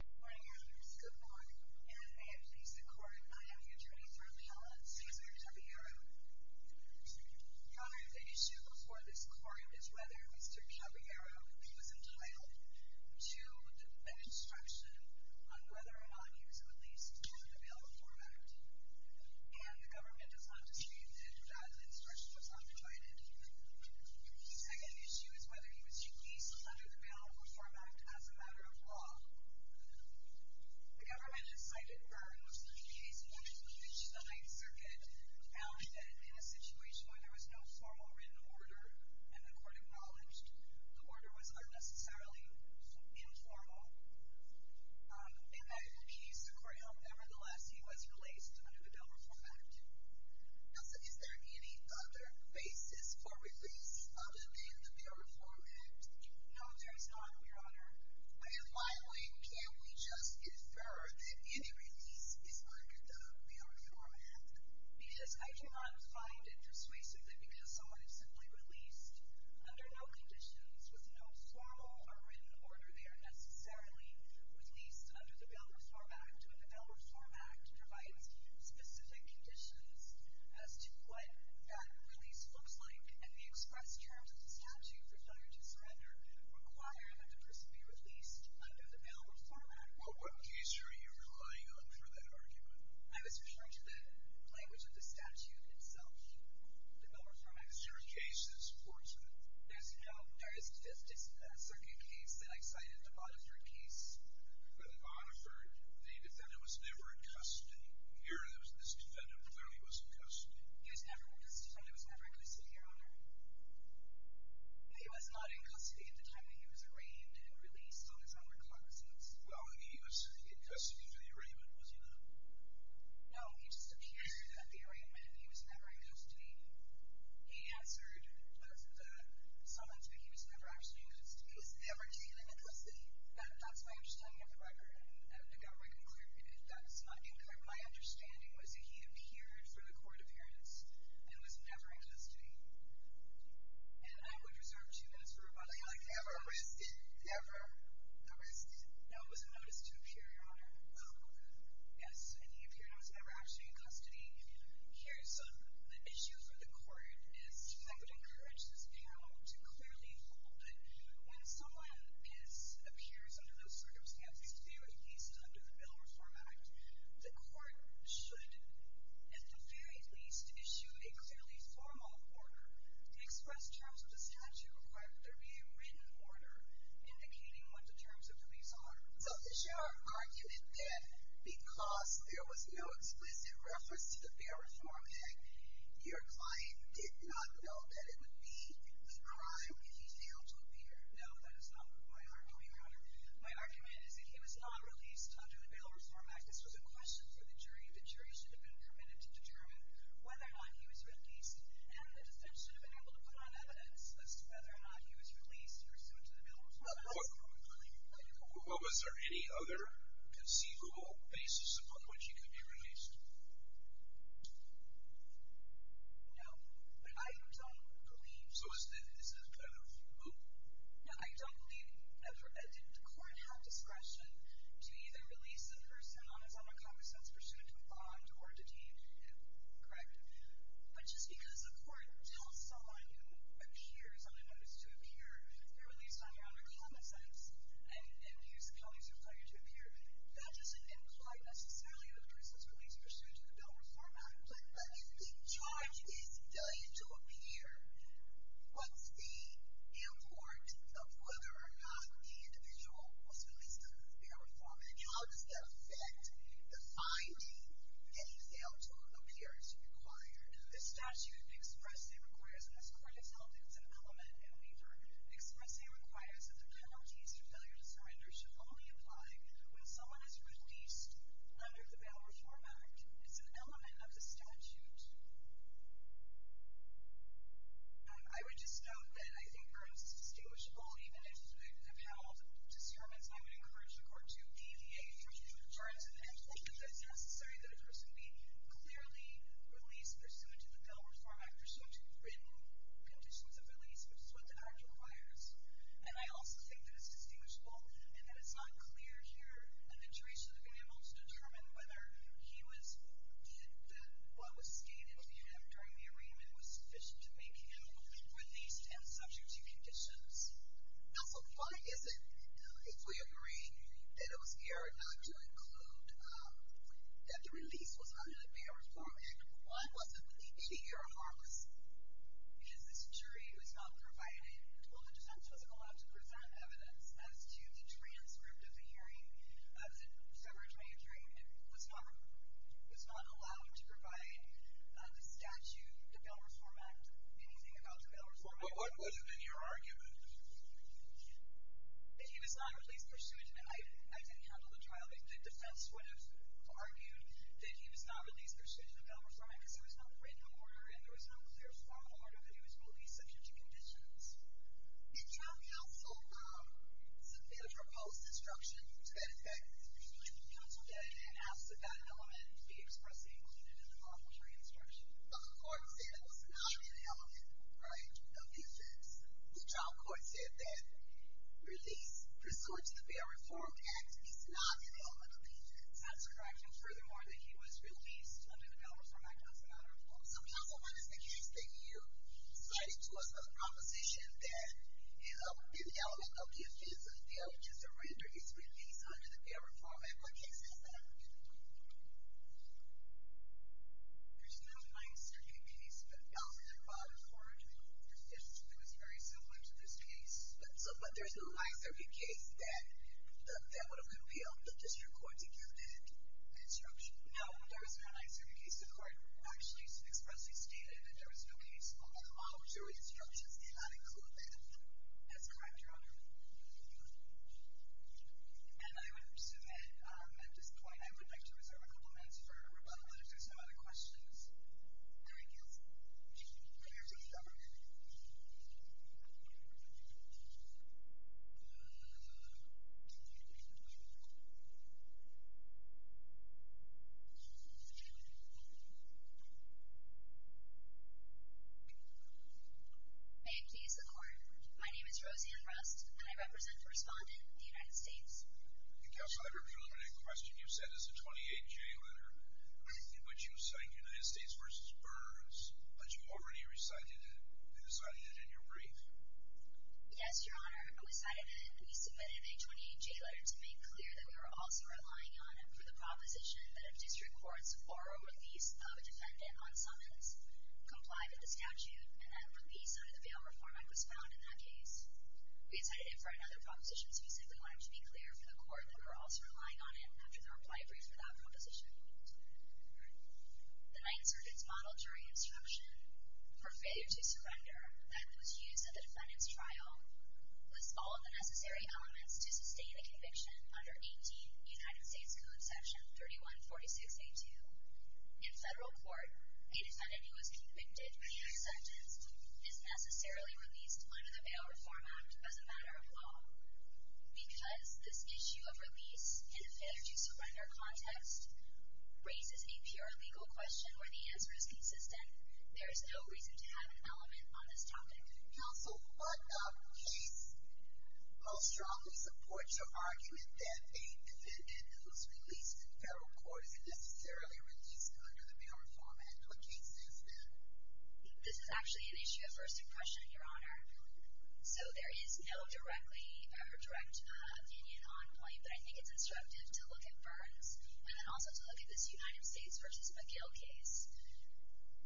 Good morning, others. Good morning. And may it please the Court, I am the Attorney for Appellant Cesar Caballero. Your Honor, the issue before this Court is whether Mr. Caballero was entitled to an instruction on whether or not he was released under the Bail Reform Act. And the government does not dispute that that instruction was not provided. The second issue is whether he was released under the Bail Reform Act as a matter of law. The government has cited Burr, in which the case wanted to reach the Ninth Circuit, found that in a situation where there was no formal written order, and the Court acknowledged the order was unnecessarily informal, in that he was released under the Bail Reform Act. Elsa, is there any other basis for release other than the Bail Reform Act? No, there is not, Your Honor. And finally, can we just infer that any release is under the Bail Reform Act? Yes, I cannot find interest, basically, because someone is simply released under no conditions, with no formal or written order. They are necessarily released under the Bail Reform Act. And the Bail Reform Act provides specific conditions as to what that release looks like, and the express terms of the statute require that the person be released under the Bail Reform Act. Well, what case are you relying on for that argument? I was referring to the language of the statute itself. The Bail Reform Act is true. The third case is fortunate. No, there isn't. There's a second case that I cited, the Bonhoeffer case. The Bonhoeffer, the defendant was never in custody. Here, this defendant clearly was in custody. He was never in custody. He was never in custody, Your Honor. He was not in custody at the time that he was arraigned and released on his own recognizance. Well, he was in custody for the arraignment, was he not? No, he disappeared at the arraignment. He was never in custody. He answered that someone said he was never actually in custody. He was never taken into custody. That's my understanding of the record. And the government concluded that that's not incorrect. My understanding was that he appeared for the court appearance and was never in custody. And I would reserve two minutes for rebuttal. You're like, ever arrested? Ever arrested. No, it was a notice to appear, Your Honor. Yes, and he appeared and was never actually in custody. The issue for the court is, and I would encourage this panel to clearly hold it, when someone appears under those circumstances, at the very least under the Bill of Reform Act, the court should, at the very least, issue a clearly formal order to express terms of this statute requiring that there be a written order indicating what the terms of the lease are. So is your argument that because there was no explicit reference to the Bill of Reform Act, your client did not know that it would be a crime if he failed to appear? No, that is not my argument, Your Honor. My argument is that he was not released under the Bill of Reform Act. This was a question for the jury. The jury should have been permitted to determine whether or not he was released. And the defense should have been able to put on evidence as to whether or not he was released pursuant to the Bill of Reform Act. Well, was there any other conceivable basis upon which he could be released? No, I don't believe. So is this kind of a move? No, I don't believe ever. Did the court have discretion to either release the person on his own account pursuant to a bond or detain him, correct? But just because the court tells someone who appears on a notice to appear if they're released on, Your Honor, common sense and use co-incident failure to appear, that doesn't imply necessarily that the person is released pursuant to the Bill of Reform Act. But if the charge is done to appear, what's the import of whether or not the individual was released under the Bill of Reform Act? The statute expressly requires, and this Court has held that it's an element in a waiver, expressly requires that the penalties for failure to surrender should only apply when someone is released under the Bill of Reform Act. It's an element of the statute. I would just note that I think there is a distinguishable, even if they have held disturbance, I would encourage the court to deviate from the terms of the statute because I think that it's necessary that a person be clearly released pursuant to the Bill of Reform Act, pursuant to the written conditions of release, which is what the Act requires. And I also think that it's distinguishable and that it's not clear here a situation to be able to determine whether he was, that one was stayed in a unit during the arraignment was sufficient to make him released and subject to conditions. Also, why is it, if we agree, that it was errored not to include, that the release was not in the Bill of Reform Act, why wasn't the DPD error harmless? Because this jury was not provided, well, it just wasn't allowed to present evidence as to the transcript of the hearing of the December 23rd. It was not allowed to provide the statute, the Bill of Reform Act, anything about the Bill of Reform Act. What would have been your argument? That he was not released pursuant to, and I didn't handle the trial, the defense would have argued that he was not released pursuant to the Bill of Reform Act because there was no written order and there was no clear formal order that he was released subject to conditions. In trial counsel, the proposed instruction, to that effect, the counsel did, and asked that that element be expressly included in the lawful jury instruction. But the court said it was not an element, right, because the trial court said that release pursuant to the Bill of Reform Act is not an element of the statute of corrections. Furthermore, that he was released under the Bill of Reform Act was not a reform. So counsel, what is the case that you cited to us, a proposition that an element of the offense, an element to surrender, is released under the Bill of Reform Act, what case is that? There's no fine-serving case, but counsel did bother forward to it. It was very similar to this case. But there's no fine-serving case that would have been revealed. Does your court think you did instruction? No, there is no fine-serving case. The court actually expressly stated that there was no case on the lawful jury instructions did not include that. That's correct, Your Honor. And I would submit, at this point, I would like to reserve a couple minutes for rebuttals if there's no other questions. All right, counsel. Would you like to go ahead? May it please the Court, my name is Roseanne Rust, and I represent the respondent of the United States. Counsel, the preliminary question you said is a 28-J letter in which you cite United States v. Burns, but you already recited it and recited it in your brief. Yes, Your Honor, we recited it and we submitted a 28-J letter to make clear that we were also relying on it for the proposition that a district court support a release of a defendant on summons complied with the statute and that a release under the Bail Reform Act was found in that case. We recited it for another proposition, so we simply wanted to be clear for the court that we were also relying on it after the reply brief for that proposition. All right. The 9th Circuit's model jury instruction for failure to surrender that was used at the defendant's trial lists all of the necessary elements to sustain a conviction under 18th United States Code, section 3146A.2. In federal court, a defendant who was convicted by another sentence is necessarily released under the Bail Reform Act as a matter of law because this issue of release in a failure to surrender context raises a pure legal question where the answer is consistent. There is no reason to have an element on this topic. Counsel, what case most strongly supports your argument that a defendant who's released in federal court isn't necessarily released under the Bail Reform Act? What case is that? This is actually an issue of first impression, Your Honor. So there is no direct opinion on point, but I think it's instructive to look at Burns and then also to look at this United States v. McGill case.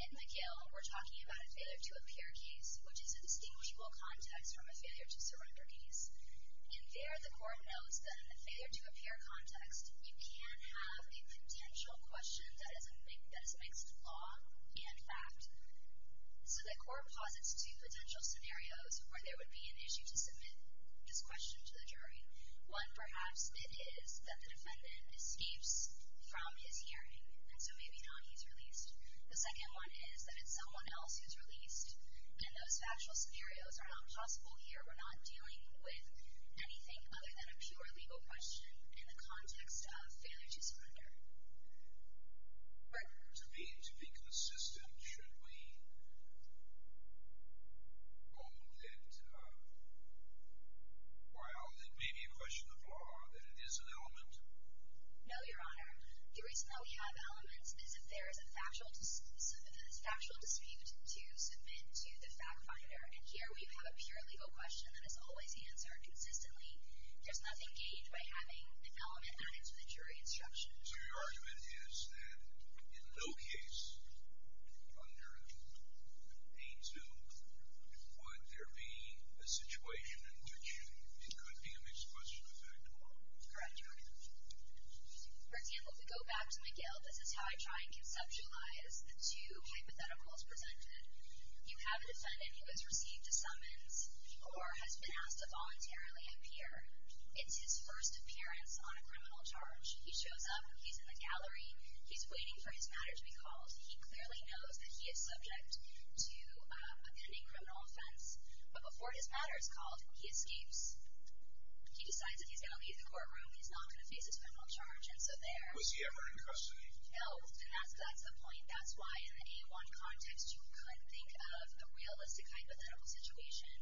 In McGill, we're talking about a failure to appear case, which is a distinguishable context from a failure to surrender case. In there, the court knows that in a failure to appear context, you can have a potential question that is mixed law and fact. So the court posits two potential scenarios where there would be an issue to submit this question to the jury. One, perhaps, it is that the defendant escapes from his hearing, and so maybe now he's released. The second one is that it's someone else who's released, and those factual scenarios are not possible here. We're not dealing with anything other than a pure legal question in the context of failure to surrender. To be consistent, should we hold it while it may be a question of law that it is an element? No, Your Honor. The reason that we have elements is if there is a factual dispute to submit to the fact finder, and here we have a pure legal question that is always answered consistently, there's nothing gauged by having an element added to the jury instruction. So your argument is that in no case under A2 would there be a situation in which it could be a mixed question of fact and law? Correct, Your Honor. For example, if we go back to McGill, this is how I try and conceptualize the two hypotheticals presented. You have a defendant who has received a summons or has been asked to voluntarily appear. It's his first appearance on a criminal charge. He shows up, he's in the gallery, he's waiting for his matter to be called. He clearly knows that he is subject to a pending criminal offense, but before his matter is called, he escapes. He decides that he's going to leave the courtroom. He's not going to face his criminal charge, and so there... Was he ever in custody? No, and that's the point. That's why in the A1 context, you could think of a realistic hypothetical situation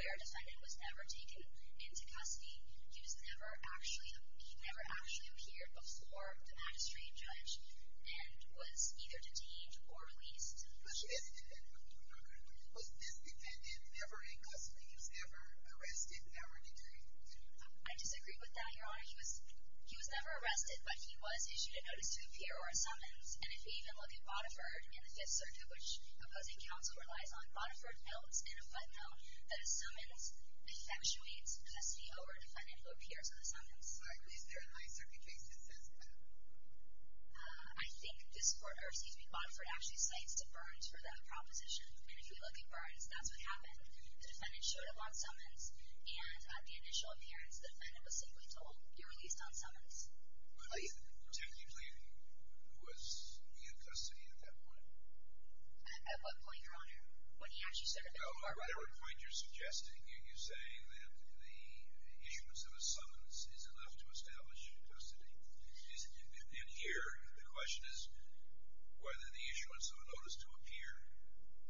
where a defendant was never taken into custody. He never actually appeared before the magistrate judge and was either detained or released. Was this defendant ever in custody? He was ever arrested? I disagree with that, Your Honor. He was never arrested, but he was issued a notice to appear or a summons, and if we even look at Bonneford in the Fifth Circuit, which opposing counsel relies on, Bonneford notes in a footnote that a summons effectuates custody over the defendant who appears on the summons. Is there a 9th Circuit case that says that? I think this court... I think Bonneford actually cites to Burns for that proposition, and if you look at Burns, that's what happened. The defendant showed up on summons, and at the initial appearance, the defendant was simply told, you're released on summons. But technically, was he in custody at that point? At what point, Your Honor? When he actually said... At whatever point you're suggesting, you're saying that the issuance of a summons isn't enough to establish custody. And here, the question is, whether the issuance of a notice to appear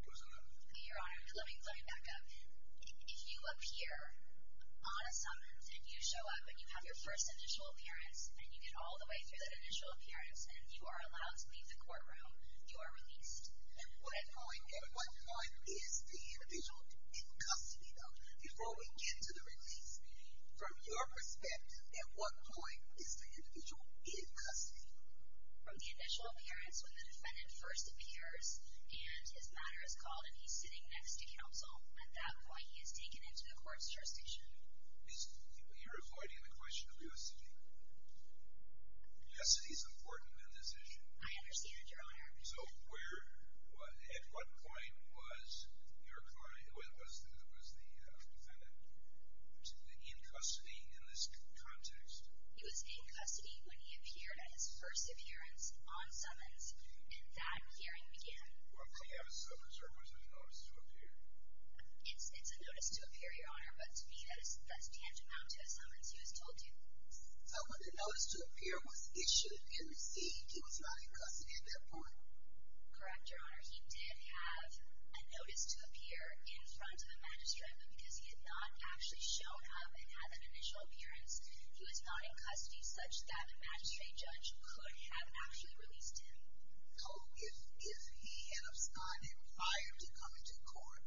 was enough. Your Honor, let me back up. If you appear on a summons, and you show up, and you have your first initial appearance, and you get all the way through that initial appearance, and you are allowed to leave the courtroom, you are released. At what point is the individual in custody, though, before we get to the release? From your perspective, at what point is the individual in custody? From the initial appearance, when the defendant first appears, and his matter is called, and he's sitting next to counsel. At that point, he is taken into the court's jurisdiction. You're avoiding the question of jurisdiction. Jurisdiction is important in this issue. I understand, Your Honor. So, where... At what point was the defendant in custody in this context? He was in custody when he appeared at his first appearance on summons, and that hearing began. Well, did he have a summons, or was there a notice to appear? It's a notice to appear, Your Honor, but to me, that's tantamount to a summons. He was told to. But when the notice to appear was issued and received, he was not in custody at that point? Correct, Your Honor. He did have a notice to appear in front of the magistrate, but because he had not actually shown up and had an initial appearance, he was not in custody such that the magistrate judge could have actually released him. So, if he has not inquired to come into court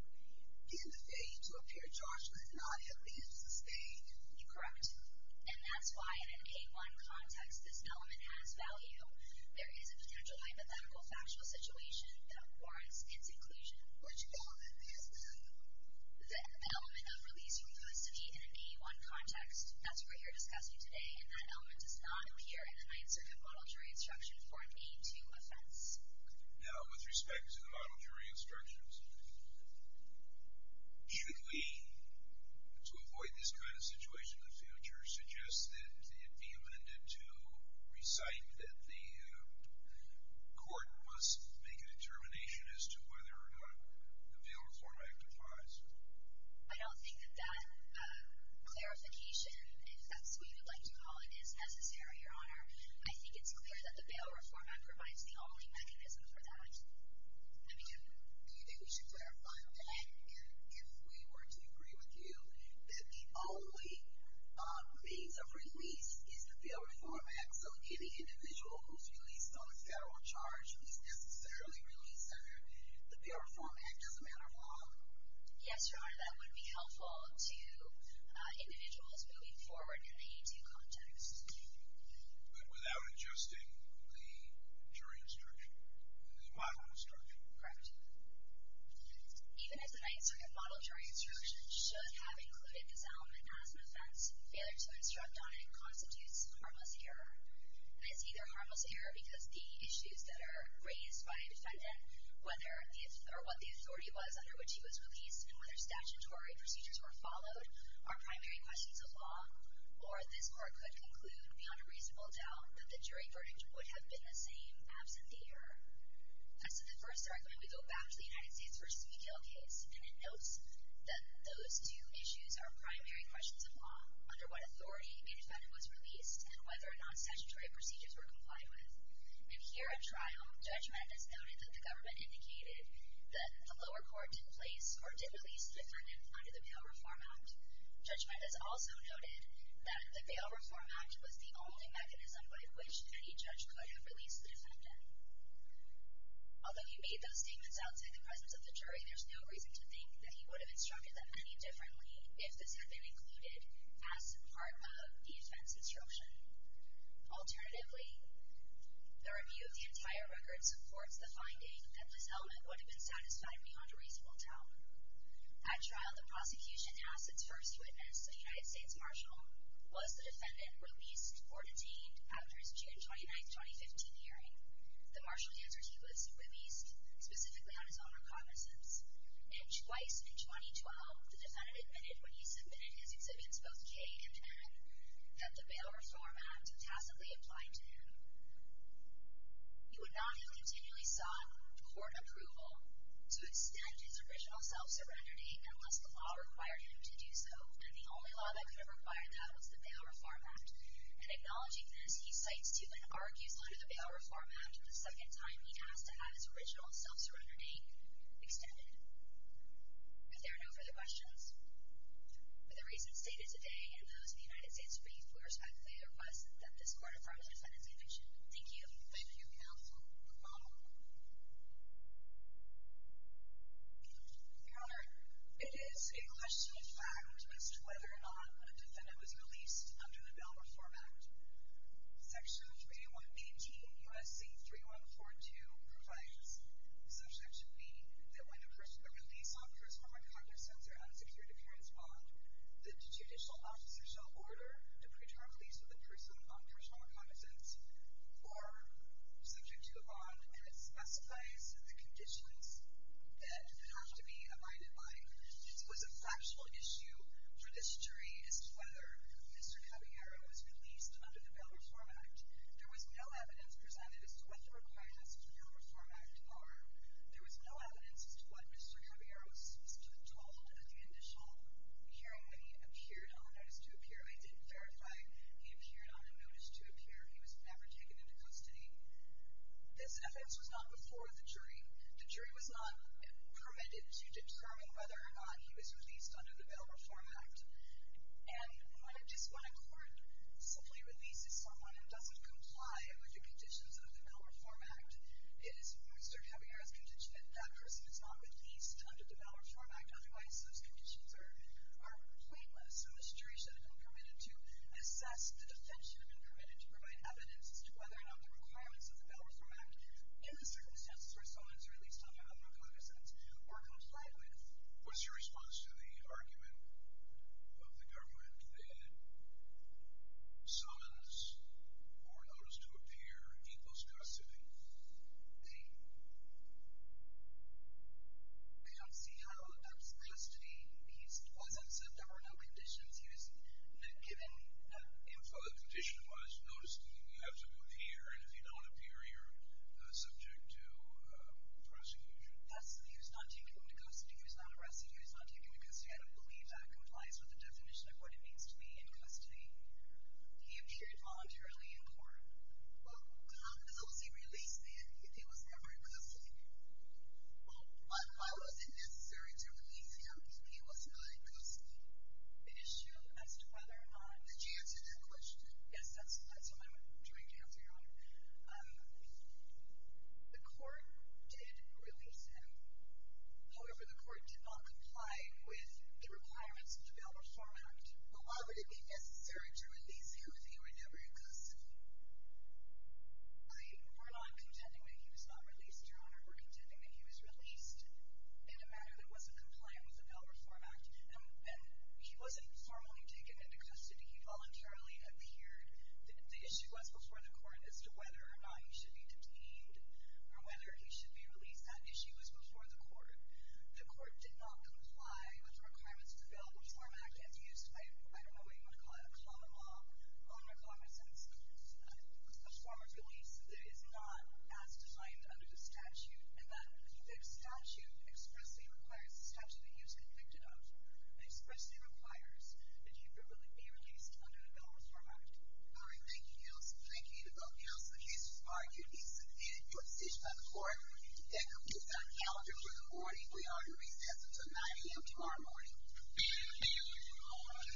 in the day to appear, Joshua did not have leave to stay? You're correct. And that's why, in an K-1 context, this element has value. There is a potential hypothetical, factual situation that warrants its inclusion. Which element has value? The element of release from custody in an K-1 context. That's what we're discussing today, and that element does not appear in the Ninth Circuit Model Jury Instruction Form 82 offense. Now, with respect to the Model Jury Instructions, should we, to avoid this kind of situation in the future, suggest that it be amended to recite that the court must make a determination as to whether or not the bail reform act applies? I don't think that that clarification, if that's what you would like to call it, is necessary, Your Honor. I think it's clear that the bail reform act provides the only mechanism for that. I mean, do you think we should clarify that? And if we were to agree with you that the only means of release is the bail reform act, so any individual who's released on a federal charge who's necessarily released under the bail reform act doesn't matter at all? Yes, Your Honor, that would be helpful to individuals moving forward in the 82 context. But without adjusting the jury instruction, the model instruction? Correct. Even as the Ninth Circuit Model Jury Instructions should have included this element as an offense, failure to instruct on it constitutes harmless error. It's either harmless error because the issues that are raised by a defendant, whether or what the authority was under which he was released and whether statutory procedures were followed are primary questions of law, or this Court could conclude beyond a reasonable doubt that the jury verdict would have been the same absent the error. As to the first argument, we go back to the United States v. McHale case, and it notes that those two issues are primary questions of law, under what authority a defendant was released and whether or not statutory procedures were complied with. And here at trial, judgment has noted that the government indicated that the lower court didn't place or didn't release the defendant under the Bail Reform Act. Judgment has also noted that the Bail Reform Act was the only mechanism by which any judge could have released the defendant. Although he made those statements outside the presence of the jury, there's no reason to think that he would have instructed them any differently if this had been included as part of the offense instruction. Alternatively, the review of the entire record supports the finding that this element would have been satisfied beyond a reasonable doubt. At trial, the prosecution asked its first witness, a United States Marshal, was the defendant released or detained after his June 29, 2015 hearing? The Marshal answered he was released specifically on his own recognizance. And twice in 2012, the defendant admitted when he submitted his exhibits, both K and N, that the Bail Reform Act tacitly applied to him. He would not have continually sought court approval to extend his original self-surrender date unless the law required him to do so, and the only law that could have required that was the Bail Reform Act. And acknowledging this, he cites Tupin Argy's letter to the Bail Reform Act the second time he asked to have his original self-surrender date extended. If there are no further questions, with the reasons stated today and those of the United States briefed, we respectfully request that this court affirms the defendant's conviction. Thank you. Thank you, Counsel. Your Honor, it is a question of fact as to whether or not a defendant was released under the Bail Reform Act. Section 3118 U.S.C. 3142 provides, subject to be, that when a release occurs from a cognizance or unsecured appearance bond, the judicial officer shall order to pre-term release of the person on personal cognizance or subject to a bond that specifies the conditions that it has to be abided by. It was a factual issue for this jury as to whether Mr. Caballero was released under the Bail Reform Act. There was no evidence presented as to what the requirements of the Bail Reform Act are. There was no evidence as to what Mr. Caballero was supposed to have told at the initial hearing when he appeared on a notice to appear. I did verify he appeared on a notice to appear. He was never taken into custody. This offense was not before the jury. The jury was not permitted to determine whether or not he was released under the Bail Reform Act. And when a court simply releases someone and doesn't comply with the conditions of the Bail Reform Act, it is Mr. Caballero's condition that that person is not released under the Bail Reform Act. Otherwise, those conditions are painless. So the jury should have been permitted to assess the defense. Should have been permitted to provide evidence as to whether or not the requirements of the Bail Reform Act in the circumstances where someone is released under other cognizance or complied with. What's your response to the argument of the government that someone's born notice to appear equals custody? I... I don't see how that's custody. He was absent. There were no conditions. He was not given info. The condition was notice to appear, and if you don't appear, you're subject to prosecution. Yes, he was not taken into custody. He was not arrested. He was not taken into custody. I don't believe that complies with the definition of what it means to be in custody. He appeared voluntarily in court. Well, how was he released then if he was never in custody? Well, why was it necessary to release him if he was not in custody? An issue as to whether or not... Did you answer that question? Yes, that's what I'm trying to answer, Your Honor. The court did release him. However, the court did not comply with the requirements of the Bail Reform Act. Well, why would it be necessary to release him if he were never in custody? We're not contending that he was not released, Your Honor. We're contending that he was released in a manner that wasn't compliant with the Bail Reform Act, and he wasn't formally taken into custody. He voluntarily appeared. The issue was before the court as to whether or not he should be detained or whether he should be released. That issue was before the court. The court did not comply with the requirements of the Bail Reform Act as used by... I don't know what you would call it, Your Honor, in a sense, a form of release that is not as defined under the statute and that the statute expressly requires... The statute that he was convicted of expressly requires that he be released under the Bail Reform Act. All right, thank you, Your Honor. Thank you to both counsel. The case is argued. It's been put before the court. That concludes our calendar for the morning. We are going to recess until 9 a.m. tomorrow morning. Thank you, Your Honor.